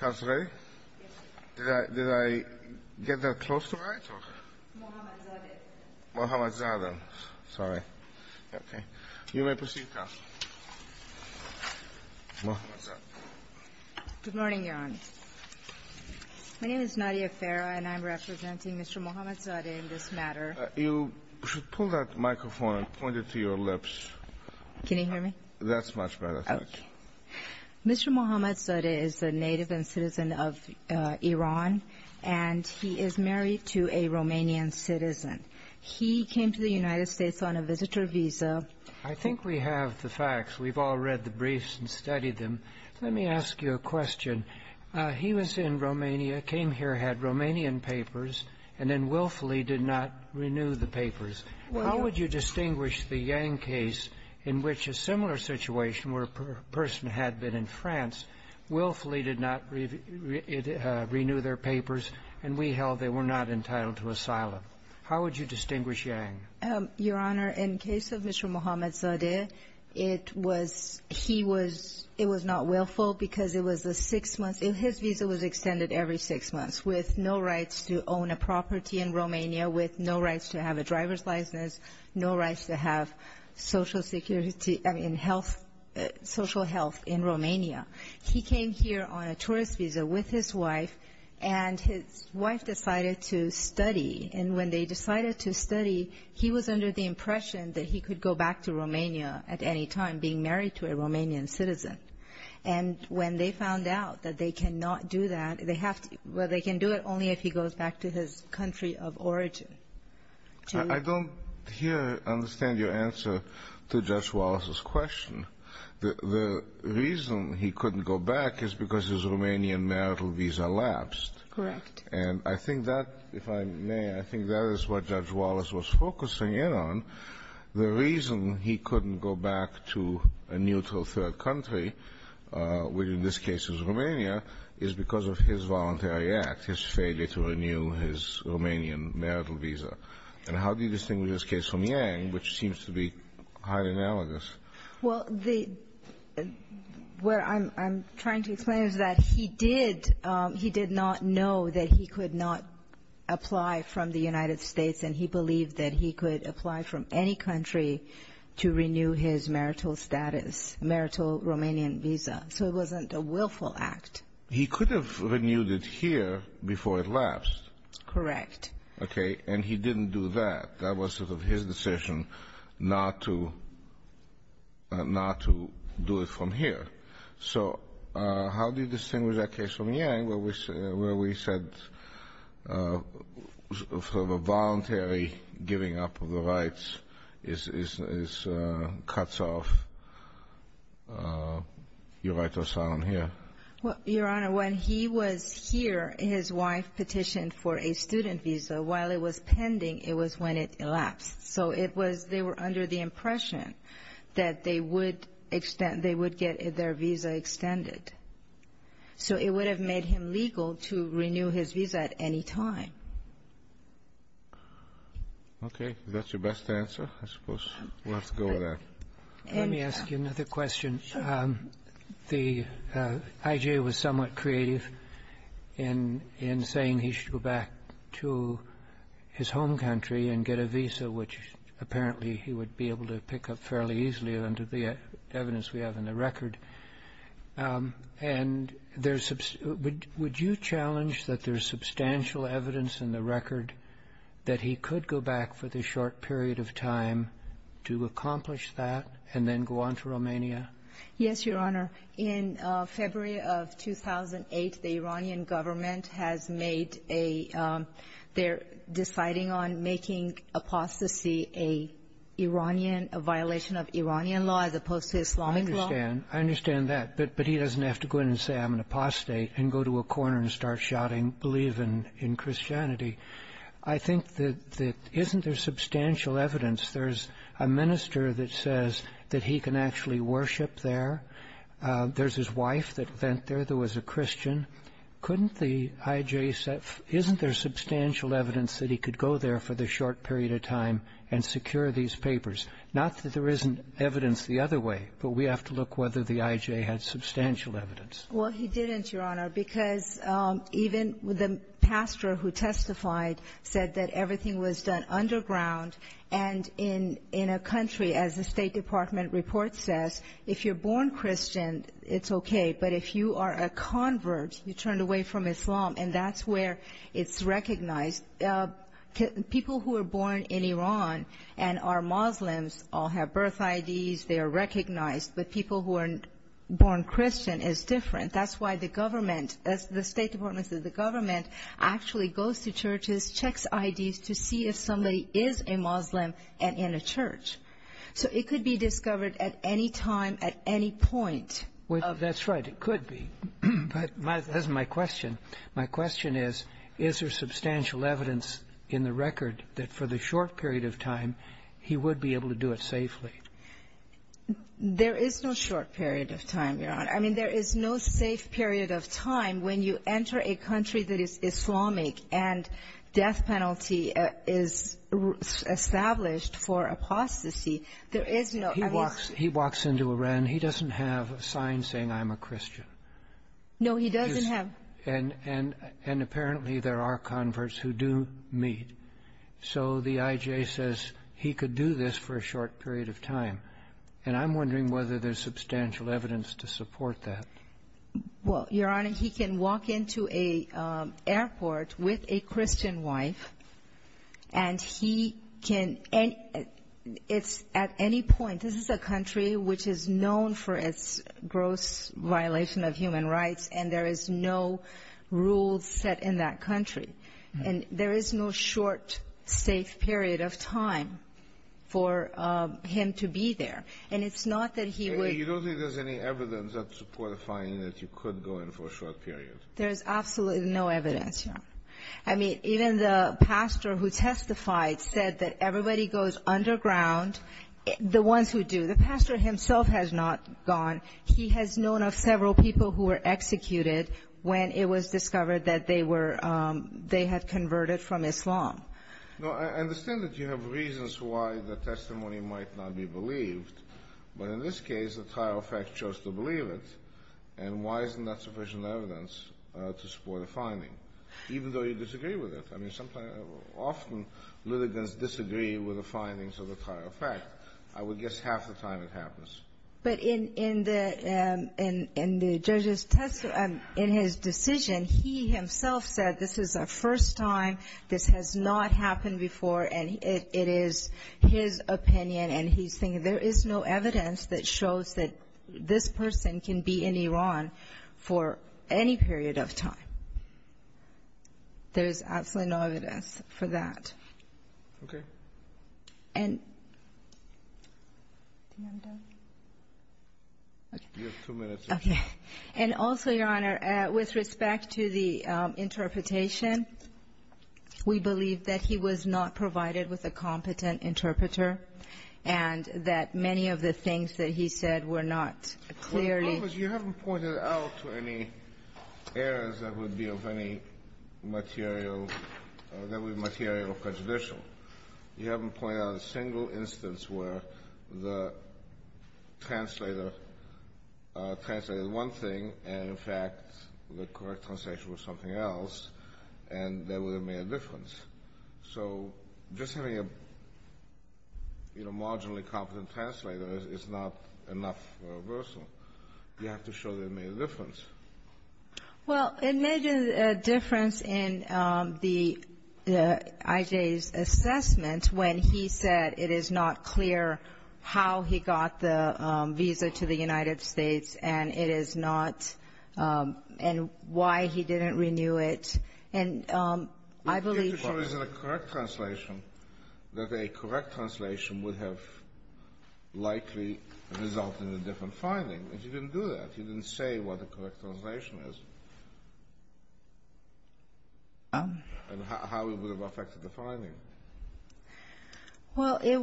Good morning Your Honor. My name is Nadia Farah and I'm representing Mr. Mohammad Zadeh in this matter. You should pull that microphone and point it to your lips. Can you hear me? That's much better. Mr. Mohammad Zadeh is a native and citizen of Iran and he is married to a Romanian citizen. He came to the United States on a visitor visa. I think we have the facts. We've all read the briefs and studied them. Let me ask you a question. He was in Romania, came here, had Romanian papers and then willfully did not renew the papers. How would you distinguish the Yang case in which a similar situation where a person had been in France, willfully did not renew their papers and we held they were not entitled to asylum? How would you distinguish Yang? Your Honor, in the case of Mr. Mohammad Zadeh, it was not willful because his visa was extended every six months with no rights to own a property in Romania, with no rights to have a driver's license, no rights to have social health in Romania. He came here on a tourist visa with his wife and his wife decided to study. And when they decided to study, he was under the impression that he could go back to Romania at any time, being married to a Romanian citizen. And when they found out that they cannot do that, they have to – well, they can do it only if he goes back to his country of origin. I don't hear, understand your answer to Judge Wallace's question. The reason he couldn't go back is because his Romanian marital visa lapsed. Correct. And I think that, if I may, I think that is what Judge Wallace was focusing in on. The reason he couldn't go back to a neutral third country, which in this case is Romania, is because of his voluntary act, his failure to renew his Romanian marital visa. And how do you distinguish this case from Yang, which seems to be highly analogous? Well, the – what I'm trying to explain is that he did – he did not know that he could not apply from the United States, and he believed that he could apply from any country to renew his marital status, marital Romanian visa. So it wasn't a willful act. He could have renewed it here before it lapsed. Correct. Okay. And he didn't do that. That was sort of his decision not to – not to do it from here. So how do you distinguish that case from Yang, where we said sort of a voluntary giving up of the rights is – cuts off your right to asylum here? Well, Your Honor, when he was here, his wife petitioned for a student visa. While it was pending, it was when it elapsed. So it was – they were under the impression that they would extend – they would get their visa extended. So it would have made him legal to renew his visa at any time. Okay. Is that your best answer? I suppose we'll have to go with that. Let me ask you another question. The – I.J. was somewhat creative in – in saying he should go back to his home country and get a visa, which apparently he would be able to pick up fairly easily under the evidence we have in the record. And there's – would you challenge that there's substantial evidence in the record that he could go back for the short period of time to accomplish that and then go on to Romania? Yes, Your Honor. In February of 2008, the Iranian government has made a – they're deciding on making apostasy a Iranian – a violation of Iranian law as opposed to Islamic law. I understand. I understand that. But he doesn't have to go in and say, I'm an apostate, and go to a corner and start shouting, believe in – in Christianity. I think that – that isn't there substantial evidence? There's a minister that says that he can actually worship there. There's his wife that went there that was a Christian. Couldn't the I.J. – isn't there substantial evidence that he could go there for the short period of time and secure these papers? Not that there isn't evidence the other way, but we have to look whether the I.J. had substantial evidence. Well, he didn't, Your Honor, because even the pastor who testified said that everything was done underground and in a country, as the State Department report says, if you're born Christian, it's okay, but if you are a convert, you're turned away from Islam, and that's where it's recognized. People who are born in Iran and are Muslims all have birth IDs. They are recognized, but people who are born Christian is different. That's why the government – the State Department says the government actually goes to churches, checks IDs to see if somebody is a Muslim and in a church. So it could be discovered at any time, at any point. That's right, it could be, but that's my question. My question is, is there substantial evidence in the record that for the short period of time he would be able to do it safely? There is no short period of time, Your Honor. I mean, there is no safe period of time when you enter a country that is Islamic and death penalty is established for apostasy. He walks into Iran. He doesn't have a sign saying, I'm a Christian. No, he doesn't have. And apparently there are converts who do meet. So the IJ says he could do this for a short period of time, and I'm wondering whether there's substantial evidence to support that. Well, Your Honor, he can walk into an airport with a Christian wife, and he can – it's at any point. This is a country which is known for its gross violation of human rights, and there is no rule set in that country. And there is no short, safe period of time for him to be there. And it's not that he would – You don't think there's any evidence that support a finding that you could go in for a short period? There is absolutely no evidence, Your Honor. I mean, even the pastor who testified said that everybody goes underground, the ones who do. The pastor himself has not gone. He has known of several people who were executed when it was discovered that they were – they had converted from Islam. No, I understand that you have reasons why the testimony might not be believed. But in this case, the trial of fact chose to believe it, and why isn't that sufficient evidence to support a finding, even though you disagree with it? I mean, sometimes – often litigants disagree with the findings of the trial of fact. I would guess half the time it happens. But in the – in the judge's – in his decision, he himself said this is a first time, this has not happened before, and it is his opinion. And he's thinking there is no evidence that shows that this person can be in Iran for any period of time. There is absolutely no evidence for that. Okay. And – do you have a doubt? You have two minutes. Okay. And also, Your Honor, with respect to the interpretation, we believe that he was not provided with a competent interpreter, and that many of the things that he said were not clearly – you haven't pointed out a single instance where the translator translated one thing and, in fact, the correct translation was something else, and that would have made a difference. So just having a, you know, marginally competent translator is not enough for a reversal. You have to show that it made a difference. Well, it made a difference in the – I.J.'s assessment when he said it is not clear how he got the visa to the United States and it is not – and why he didn't renew it. And I believe – But you have to show that a correct translation – that a correct translation would have likely resulted in a different finding. But you didn't do that. You didn't say what a correct translation is and how it would have affected the finding. Well, it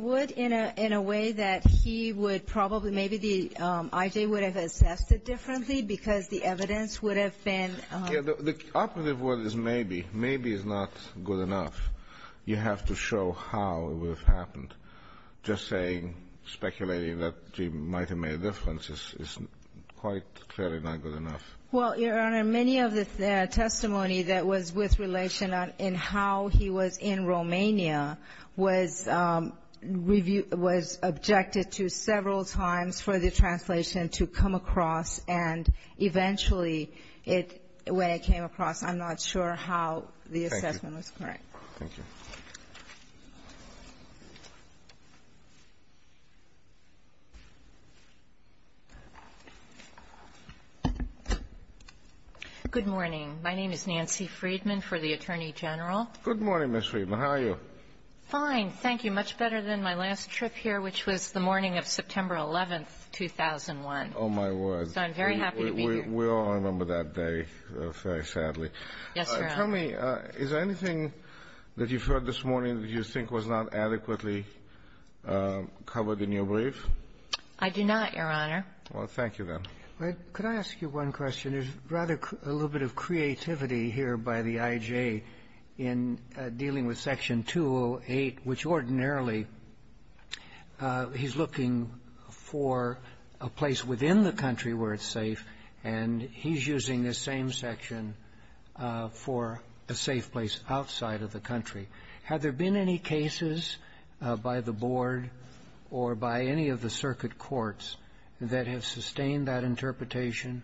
would in a way that he would probably – maybe the – I.J. would have assessed it differently because the evidence would have been – Yeah, the operative word is maybe. Maybe is not good enough. You have to show how it would have happened. Just saying, speculating that he might have made a difference is quite clearly not good enough. Well, Your Honor, many of the testimony that was with relation in how he was in Romania was reviewed – was objected to several times for the translation to come across, and eventually it – when it came across, I'm not sure how the assessment was correct. Thank you. Good morning. My name is Nancy Friedman for the Attorney General. Good morning, Ms. Friedman. How are you? Fine, thank you. Much better than my last trip here, which was the morning of September 11th, 2001. Oh, my word. So I'm very happy to be here. We all remember that day very sadly. Yes, Your Honor. Tell me, is there anything that you've heard this morning that you think was not adequately covered in your brief? I do not, Your Honor. Well, thank you, then. Could I ask you one question? There's rather a little bit of creativity here by the IJ in dealing with Section 208, which ordinarily he's looking for a place within the country where it's safe, and he's using this same section for a safe place outside of the country. Have there been any cases by the Board or by any of the circuit courts that have sustained that interpretation?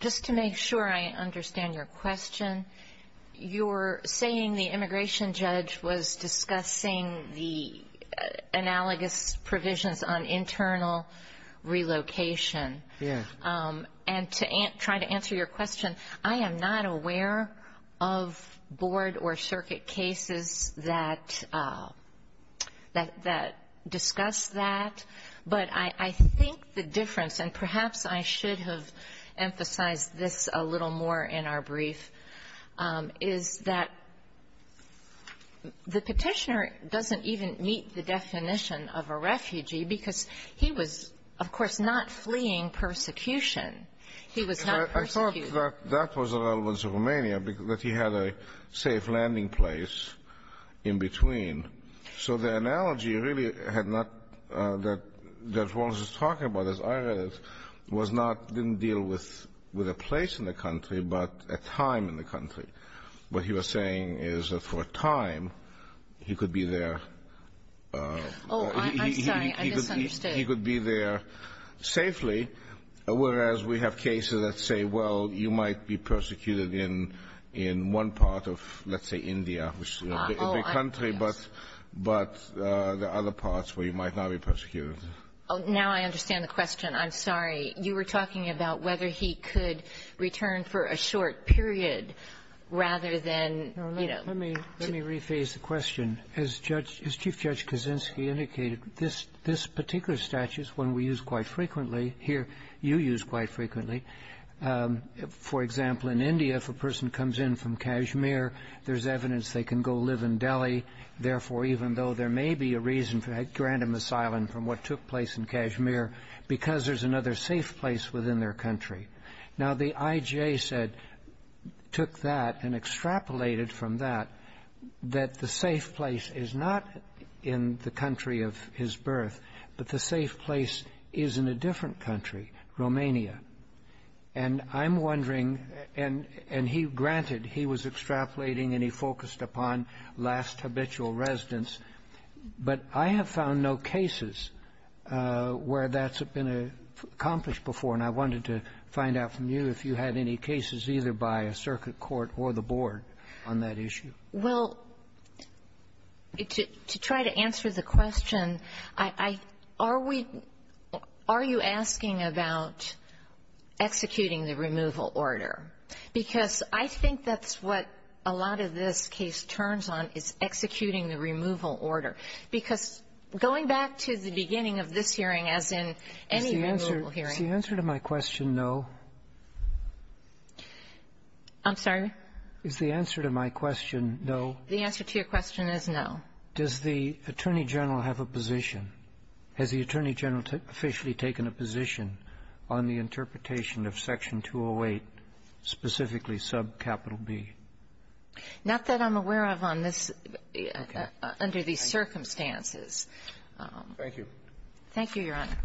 Just to make sure I understand your question, you're saying the immigration judge was discussing the analogous provisions on internal relocation. Yes. And to try to answer your question, I am not aware of Board or circuit cases that discuss that. But I think the difference, and perhaps I should have emphasized this a little more in our brief, is that the petitioner doesn't even meet the definition of a refugee because he was, of course, not fleeing persecution. He was not persecuted. I thought that that was relevant to Romania, that he had a safe landing place in between. So the analogy really had not, that Wallace was talking about, as I read it, was not, didn't deal with a place in the country, but a time in the country. What he was saying is that for a time, he could be there. Oh, I'm sorry. I misunderstood. He could be there safely, whereas we have cases that say, well, you might be persecuted in one part of, let's say, India, which is a big country. Yes. But there are other parts where you might not be persecuted. Oh, now I understand the question. I'm sorry. You were talking about whether he could return for a short period rather than, you know. Let me rephrase the question. As Judge, as Chief Judge Kaczynski indicated, this particular statute is one we use quite frequently here, you use quite frequently. For example, in India, if a person comes in from Kashmir, there's evidence they can go live in Delhi. Therefore, even though there may be a reason to grant him asylum from what took place in Kashmir, because there's another safe place within their country. Now, the IJA said, took that and extrapolated from that, that the safe place is not in the country of his birth, but the safe place is in a different country, Romania. And I'm wondering, and he granted he was extrapolating and he focused upon last habitual residence. But I have found no cases where that's been accomplished before. And I wanted to find out from you if you had any cases either by a circuit court or the board on that issue. Well, to try to answer the question, I are we are you asking about executing the removal order? Because I think that's what a lot of this case turns on, is executing the removal order. Because going back to the beginning of this hearing, as in any removal hearing. Is the answer to my question no? I'm sorry? Is the answer to my question no? The answer to your question is no. Does the Attorney General have a position? Has the Attorney General officially taken a position on the interpretation of Section 208, specifically subcapital B? Not that I'm aware of on this, under these circumstances. Thank you. Thank you, Your Honor.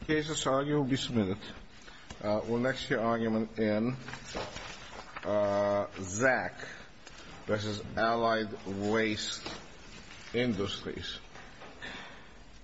The case that's argued will be submitted. We'll next hear argument in Zach versus Allied Waste Industries.